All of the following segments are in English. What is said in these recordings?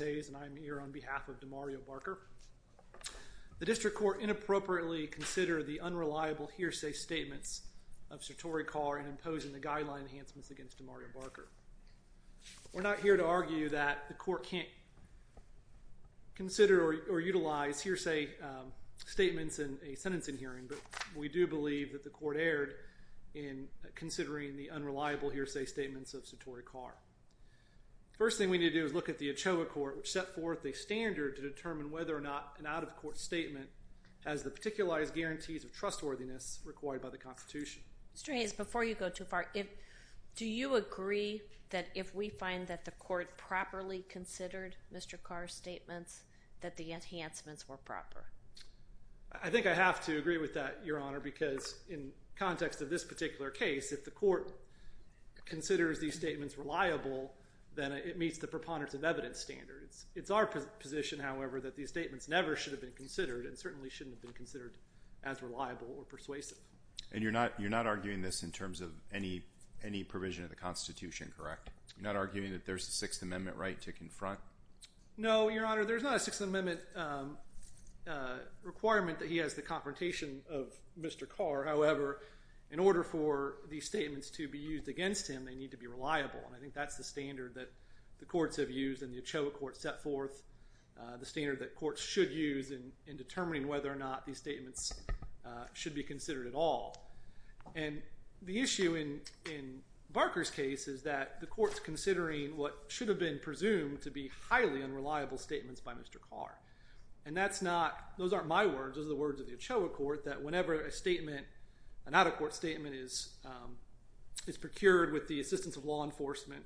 I'm here on behalf of Demario Barker. The District Court inappropriately considered the unreliable hearsay statements of Satori Carr in imposing the guideline enhancements against Demario Barker. We're not here to argue that the court can't consider or utilize hearsay statements in a sentencing hearing, but we do believe that the court erred in considering the unreliable hearsay statements of Satori Carr. First thing we need to do is look at the Ochoa Court, which set forth a standard to determine whether or not an out-of-court statement has the particularized guarantees of trustworthiness required by the Constitution. Judge Cardone Mr. Hayes, before you go too far, do you agree that if we find that the court properly considered Mr. Carr's statements, that the enhancements were proper? Mr. Hayes I think I have to agree with that, Your Honor, because in context of this particular case, if the court considers these statements reliable, then it meets the preponderance of evidence standards. It's our position, however, that these statements never should have been considered and certainly shouldn't have been considered as reliable or persuasive. Judge Cardone And you're not arguing this in terms of any provision of the Constitution, correct? You're not arguing that there's a Sixth Amendment right to confront? Mr. Hayes No, Your Honor, there's not a Sixth Amendment requirement that he has the confrontation of Mr. Carr. However, in order for these statements to be used against him, they need to be reliable. And I think that's the standard that the courts have used in the Ochoa Court set forth, the standard that courts should use in determining whether or not these statements should be considered at all. And the issue in Barker's case is that the court's considering what should have been presumed to be highly unreliable statements by Mr. Carr. And that's not, those aren't my words, those are the words of the is procured with the assistance of law enforcement,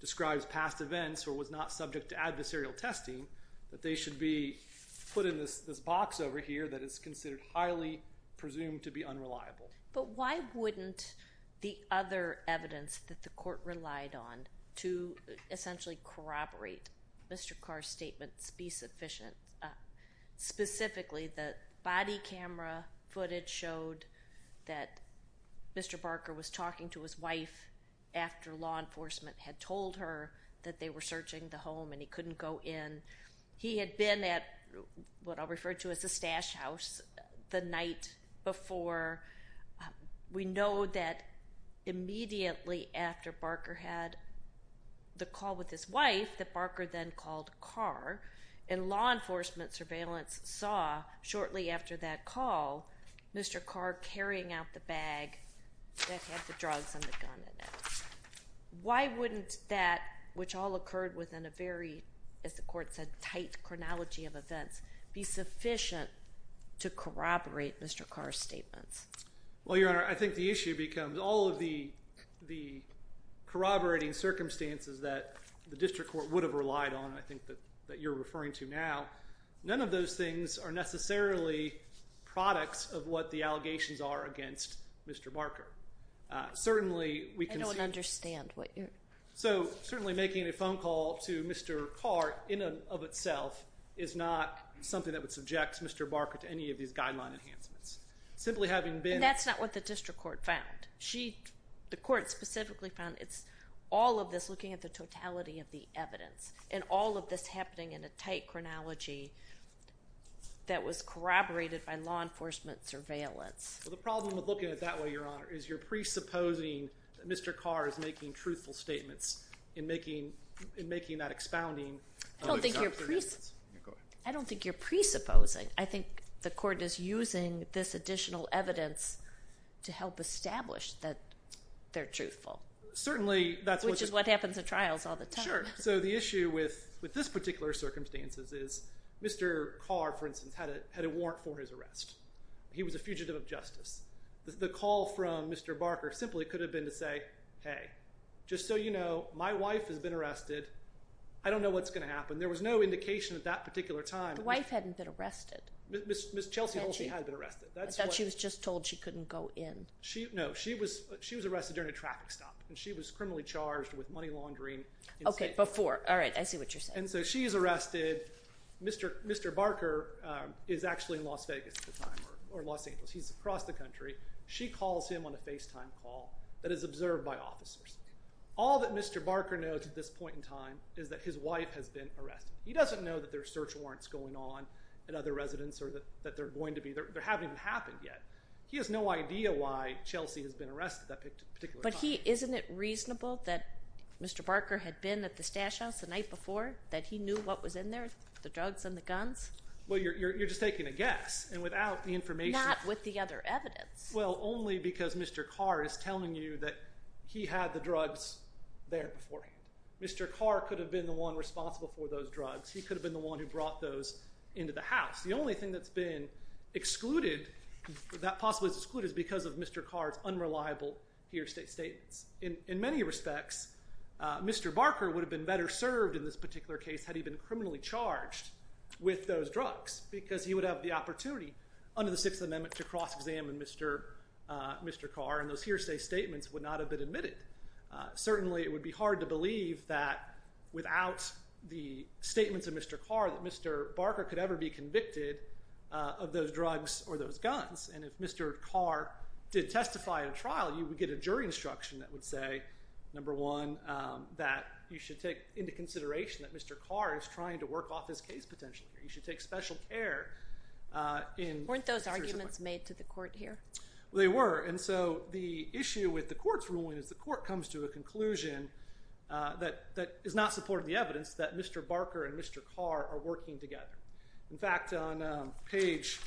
describes past events or was not subject to adversarial testing, that they should be put in this box over here that is considered highly presumed to be unreliable. Judge Cardone But why wouldn't the other evidence that the court relied on to essentially corroborate Mr. Carr's statements be sufficient? Specifically the body camera footage showed that Mr. Barker was talking to his wife after law enforcement had told her that they were searching the home and he couldn't go in. He had been at what I'll refer to as the stash house the night before. We know that immediately after Barker had the call with his wife that Barker then called Carr, and law enforcement surveillance saw shortly after that call Mr. Carr carrying out the bag that had the drugs and the gun in it. Why wouldn't that, which all occurred within a very, as the court said, tight chronology of events, be sufficient to corroborate Mr. Carr's statements? Judge Baird Well, Your Honor, I think the issue becomes all of the corroborating circumstances that the district court would have relied on, I don't think the allegations are necessarily products of what the allegations are against Mr. Barker. Certainly we can see... Judge Cardone I don't understand what you're... Judge Baird So certainly making a phone call to Mr. Carr in and of itself is not something that would subject Mr. Barker to any of these guideline enhancements. Simply having been... Judge Cardone And that's not what the district court found. The court specifically found it's all of this looking at the totality of the evidence and all of this happening in a tight chronology that was corroborated by law enforcement surveillance. Judge Baird The problem with looking at it that way, Your Honor, is you're presupposing that Mr. Carr is making truthful statements and making that expounding of his arguments. Judge Cardone I don't think you're presupposing. I think the court is using this additional evidence to help establish that they're truthful. Which is what happens in trials all the time. Judge Baird Sure. So the issue with this particular circumstances is Mr. Carr, for instance, had a warrant for his arrest. He was a fugitive of justice. The call from Mr. Barker simply could have been to say, hey, just so you know, my wife has been arrested. I don't know what's going to happen. There was no indication at that particular time... Judge Cardone The wife hadn't been arrested. Judge Baird Ms. Chelsea Holsey had been arrested. Judge Cardone I thought she was just told she couldn't go in. Judge Baird No. She was arrested during a traffic stop. She was criminally charged with money laundering. Judge Cardone Okay. Before. All right. I see what you're saying. Judge Baird And so she's arrested. Mr. Barker is actually in Las Vegas at the time, or Los Angeles. He's across the country. She calls him on a FaceTime call that is observed by officers. All that Mr. Barker knows at this point in time is that his wife has been arrested. He doesn't know that there are search warrants going on at other residents or that they're going to be. They haven't even happened yet. He has no idea why Chelsea has been arrested at that particular time. Ms. Chelsea Holsey But isn't it reasonable that Mr. Barker had been at the stash house the night before, that he knew what was in there, the drugs and the guns? Judge Baird Well, you're just taking a guess. And without the information... Ms. Chelsea Holsey Not with the other evidence. Judge Baird Well, only because Mr. Carr is telling you that he had the drugs there beforehand. Mr. Carr could have been the one responsible for those drugs. He could have been the one who brought those into the house. The only thing that's been excluded, that possibly is excluded, is because of Mr. Carr's unreliable hearsay statements. In many respects, Mr. Barker would have been better served in this particular case had he been criminally charged with those drugs because he would have the opportunity under the Sixth Amendment to cross-examine Mr. Carr and those hearsay statements would not have been admitted. Certainly, it would be hard to believe that without the statements of Mr. Carr that Mr. Barker could ever be convicted of those drugs or those guns. And if Mr. Carr did testify in a trial, you would get a jury instruction that would say, number one, that you should take into consideration that Mr. Carr is trying to work off his case potentially. You should take special care in... Ms. Chelsea Holsey Weren't those arguments made to the court here? Judge Baird They were. And so the issue with the court's ruling is the court comes to a conclusion that is not supporting the evidence that Mr. Carr are working together. In fact, on page...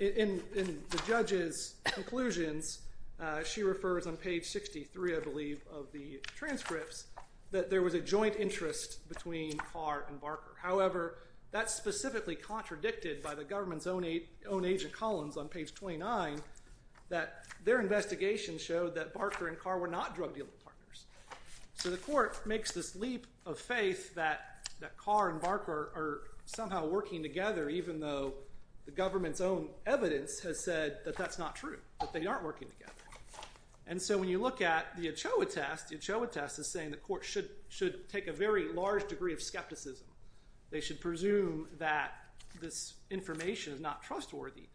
In the judge's conclusions, she refers on page 63, I believe, of the transcripts that there was a joint interest between Carr and Barker. However, that's specifically contradicted by the government's own agent, Collins, on So the court makes this leap of faith that Carr and Barker are somehow working together even though the government's own evidence has said that that's not true, that they aren't working together. And so when you look at the Ochoa test, the Ochoa test is saying the court should take a very large degree of skepticism. They should presume that this information is not trustworthy.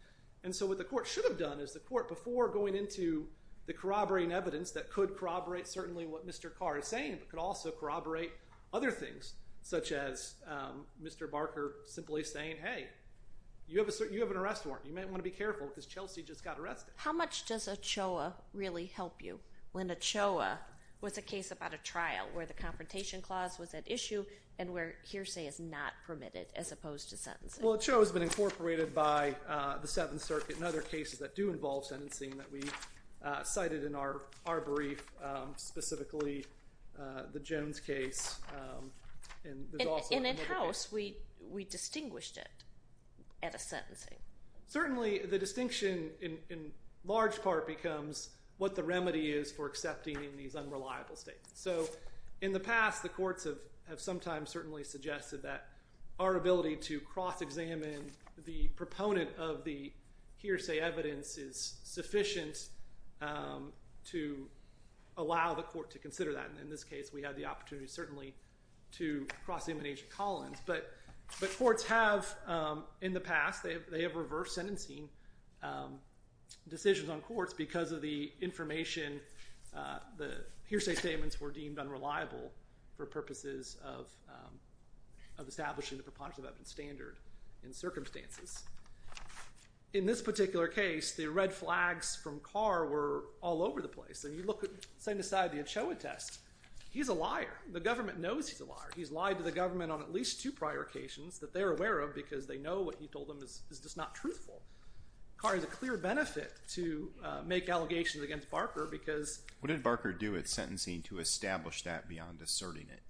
And so what the court should have done is the court, before going into the corroborating evidence that could corroborate certainly what Mr. Carr is saying, but could also corroborate other things, such as Mr. Barker simply saying, hey, you have an arrest warrant. You might want to be careful because Chelsea just got arrested. Judge Holsey How much does Ochoa really help you when Ochoa was a case about a trial where the confrontation clause was at issue and where hearsay is not permitted as opposed to sentencing? Judge Baird Well, Ochoa has been incorporated by the court. It's cited in our brief, specifically the Jones case, and there's also another case. Judge Holsey And in-house, we distinguished it at a sentencing. Judge Baird Certainly, the distinction in large part becomes what the remedy is for accepting these unreliable statements. So in the past, the courts have sometimes certainly suggested that our ability to cross-examine the proponent of the hearsay evidence is sufficient to allow the court to consider that. And in this case, we had the opportunity certainly to cross-examine Agent Collins. But courts have in the past, they have reversed sentencing decisions on courts because of the information, the hearsay statements were deemed unreliable for purposes of establishing the preponderance of evidence standard in circumstances. In this particular case, the red flags from Carr were all over the place. And you look at, say, the side of the Ochoa test, he's a liar. The government knows he's a liar. He's lied to the government on at least two prior occasions that they're aware of because they know what he told them is just not truthful. Carr has a clear benefit to make allegations against Barker because- Judge Goldberg What did Barker do at sentencing to establish that beyond asserting it?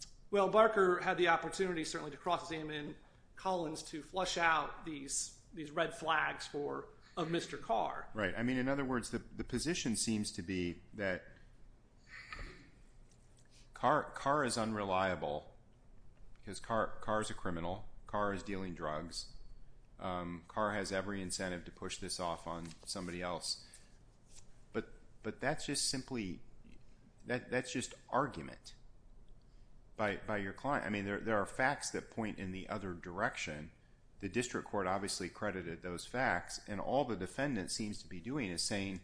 Judge Baird Well, Barker had the opportunity certainly to cross-examine Collins to flush out these red flags of Mr. Carr. Judge Goldberg Right. In other words, the position seems to be that Carr is unreliable because Carr is a criminal. Carr is dealing drugs. Carr has every incentive to push this off on somebody else. But that's just simply, that's just an argument by your client. I mean, there are facts that point in the other direction. The district court obviously credited those facts. And all the defendant seems to be doing is saying,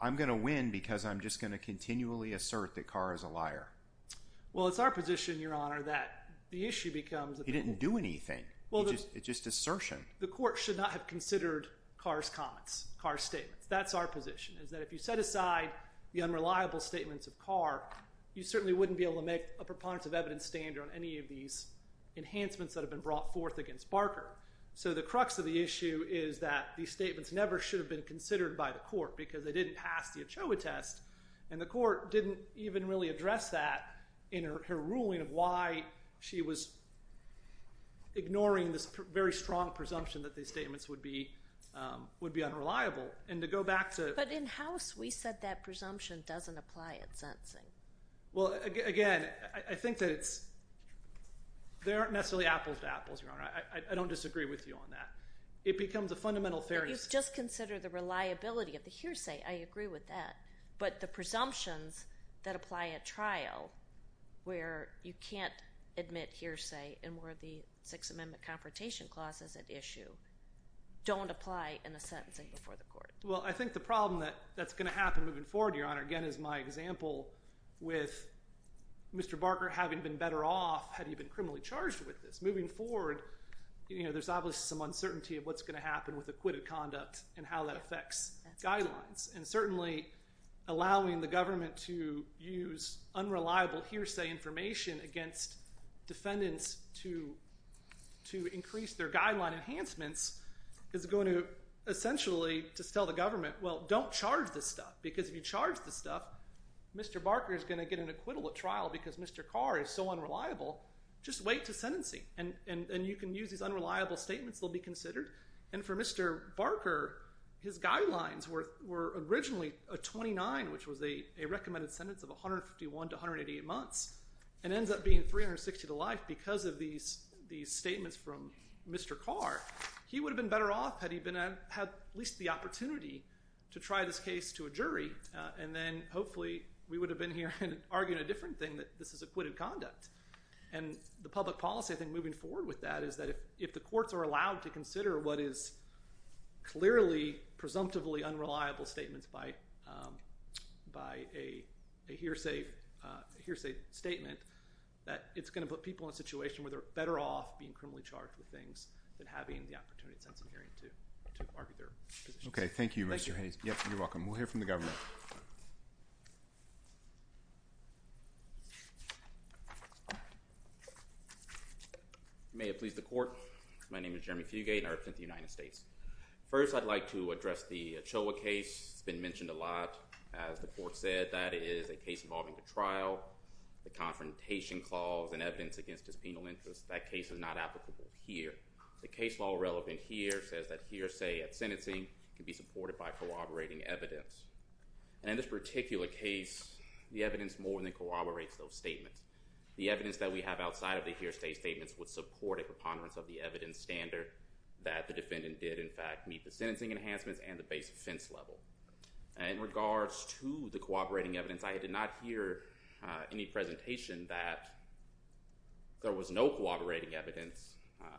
I'm going to win because I'm just going to continually assert that Carr is a liar. Judge Baird Well, it's our position, Your Honor, that the issue becomes- Judge Goldberg He didn't do anything. It's just assertion. Judge Baird The court should not have considered Carr's comments, Carr's statements. That's our position, is that if you set aside the unreliable statements of Carr, you certainly wouldn't be able to make a preponderance of evidence standard on any of these enhancements that have been brought forth against Barker. So the crux of the issue is that these statements never should have been considered by the court because they didn't pass the Ochoa test. And the court didn't even really address that in her ruling of why she was ignoring this very strong presumption that these statements would be unreliable. And to go back to- Judge Goldberg But in house, we said that presumption doesn't apply at sentencing. Judge Baird Well, again, I think that it's- they aren't necessarily apples to apples, Your Honor. I don't disagree with you on that. It becomes a fundamental fairness- Judge Goldberg You've just considered the reliability of the hearsay. I agree with that. But the presumptions that apply at trial where you can't admit hearsay and where the Sixth Amendment Confrontation Clause is at issue don't apply in the sentencing before the court. Judge Baird Well, I think the problem that's going to happen moving forward, Your Honor, again, is my example with Mr. Barker having been better off had he been criminally charged with this. Moving forward, you know, there's obviously some uncertainty of what's going to happen with acquitted conduct and how that affects guidelines. And certainly allowing the government to use unreliable hearsay information against defendants to increase their guideline enhancements is going to essentially distil the government, well, don't charge this stuff because if you charge this stuff, Mr. Barker is going to get an acquittal at trial because Mr. Carr is so unreliable. Just wait to sentencing and you can use these unreliable statements. They'll be considered. And for Mr. Barker, his guidelines were originally a 29, which was a recommended sentence of 151 to 188 months and ends up being 360 to life because of these statements from Mr. Carr. He would have been better off had he had at least the opportunity to try this case to a jury and then hopefully we would have been here and argued a different thing that this is acquitted conduct. And the public policy, I think, moving forward with that is that if the courts are allowed to consider what is clearly presumptively unreliable statements by a hearsay statement, that it's going to put people in a situation where they're better off being criminally OK. Thank you, Mr. Hayes. Yes, you're welcome. We'll hear from the government. May it please the court. My name is Jeremy Fugate and I represent the United States. First, I'd like to address the Ochoa case. It's been mentioned a lot. As the court said, that is a case involving the trial, the confrontation clause, and evidence against his penal interest. That case is not applicable here. The case law relevant here says that hearsay at sentencing can be supported by corroborating evidence. And in this particular case, the evidence more than corroborates those statements. The evidence that we have outside of the hearsay statements would support a preponderance of the evidence standard that the defendant did in fact meet the sentencing enhancements and the base offense level. In regards to the no corroborating evidence,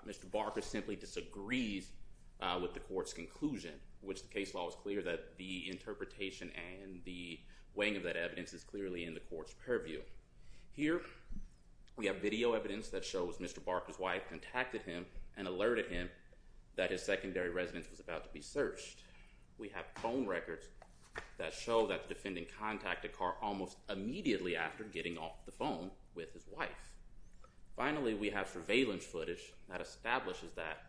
Mr. Barker simply disagrees with the court's conclusion, which the case law is clear that the interpretation and the weighing of that evidence is clearly in the court's purview. Here, we have video evidence that shows Mr. Barker's wife contacted him and alerted him that his secondary residence was about to be searched. We have phone records that show that the defendant contacted Carr almost immediately after getting off the phone with his wife. Finally, we have surveillance footage that establishes that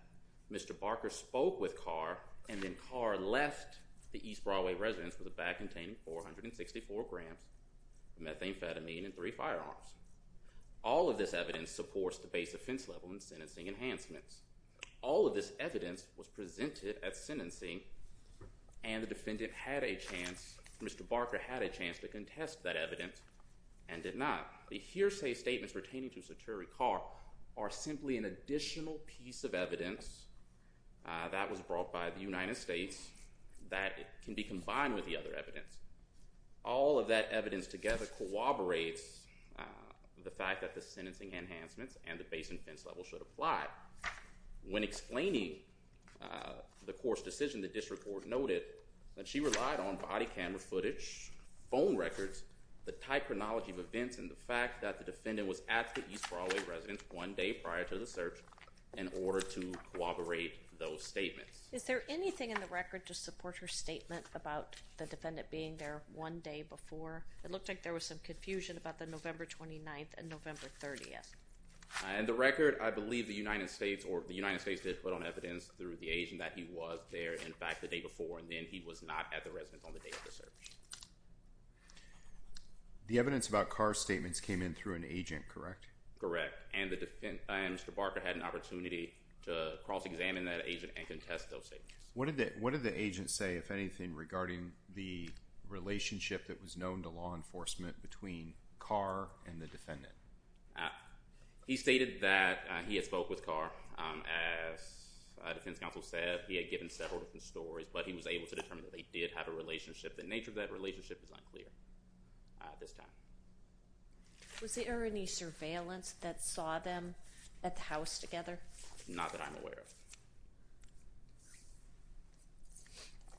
Mr. Barker spoke with Carr, and then Carr left the East Broadway residence with a bag containing 464 grams of methamphetamine and three firearms. All of this evidence supports the base offense level and sentencing enhancements. All of this evidence was presented at sentencing, and the defendant had a chance, Mr. Barker had a chance to contest that evidence, and did not. The hearsay statements pertaining to Secretary Carr are simply an additional piece of evidence that was brought by the United States that can be combined with the other evidence. All of that evidence together corroborates the fact that the sentencing enhancements and the base offense level should apply. When explaining the court's decision, the district court noted that she relied on body camera footage, phone records, the type of knowledge of events, and the fact that the defendant was at the East Broadway residence one day prior to the search in order to corroborate those statements. Is there anything in the record to support her statement about the defendant being there one day before? It looked like there was some confusion about the November 29th and November 30th. In the record, I believe the United States did put on evidence through the agent that he was there, in fact, the day before, and then he was not at the residence on the day of the search. The evidence about Carr's statements came in through an agent, correct? Correct, and Mr. Barker had an opportunity to cross-examine that agent and contest those statements. What did the agent say, if anything, regarding the relationship that was known to law enforcement between Carr and the defendant? He stated that he had spoke with Carr. As defense counsel said, he had given several different stories, but he was able to determine that they did have a relationship. The nature of that relationship is unclear at this time. Was there any surveillance that saw them at the house together? Not that I'm aware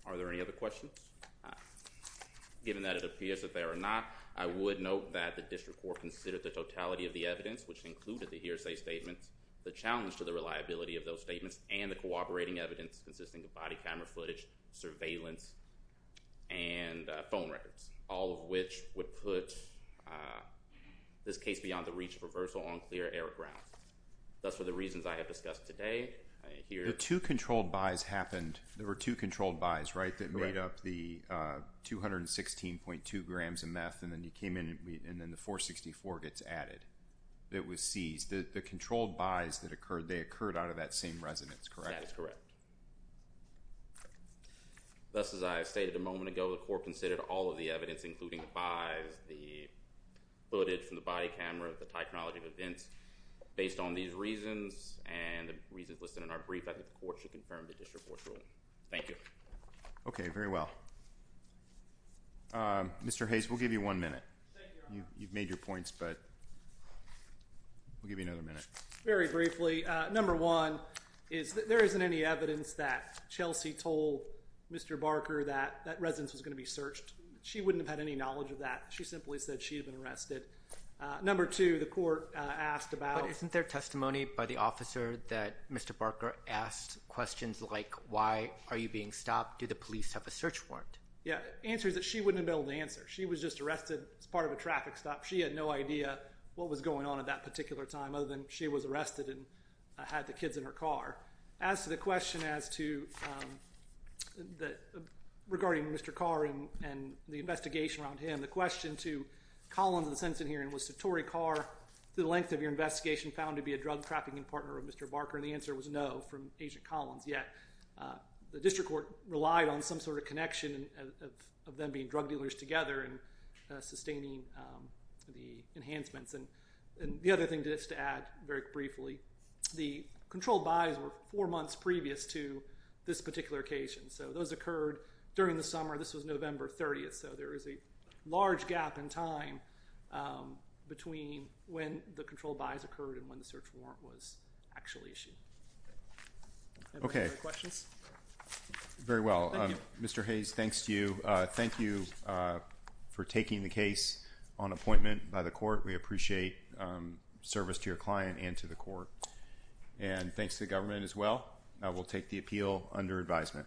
of. Are there any other questions? Given that it appears that there are not, I would note that the district court considered the totality of the evidence, which included the hearsay statements, the challenge to the reliability of those statements, and the cooperating evidence consisting of body camera footage, surveillance, and phone records, all of which would put this case beyond the reach of reversal on clear error grounds. That's for the reasons I have discussed today. The two controlled buys happened, there were two controlled buys, right, that made up the 216.2 grams of meth, and then you came in and then the 464 gets added, that was seized. The controlled buys that occurred, they occurred out of that same residence, correct? That is correct. Thus, as I stated a moment ago, the court considered all of the evidence, including the buys, the footage from the body camera, the technology of events, based on these reasons, and the reasons listed in our brief, I think the court should confirm the district court's ruling. Thank you. Okay, very well. Mr. Hayes, we'll give you one minute. Very briefly, number one, there isn't any evidence that Chelsea told Mr. Barker that that residence was going to be searched. She wouldn't have had any knowledge of that. She simply said she had been arrested. Number two, the court asked about... But isn't there testimony by the officer that Mr. Barker asked questions like, why are you being stopped? Do the police have a search warrant? Yeah, the answer is that she wouldn't have been able to answer. She was just arrested as part of a traffic stop. She had no idea what was going on at that particular time other than she was arrested and had the kids in her car. As to the question as to... Regarding Mr. Carr and the investigation around him, the question to Collins in the sentencing hearing was to Torrey Carr, the length of your investigation found to be a drug trafficking partner of Mr. Barker, and the answer was no from Agent Collins. Yet, the district court relied on some sort of connection of them being drug dealers together in sustaining the enhancements. The other thing just to add very briefly, the controlled buys were four months previous to this particular occasion. Those occurred during the summer. This was November 30th, so there is a large gap in time between when the controlled buys occurred and when the search warrant was actually issued. Okay. Questions? Very well. Mr. Hayes, thanks to you. Thank you for taking the case on appointment by the court. We appreciate service to your client and to the court. And thanks to the government as well. We'll take the appeal under advisement.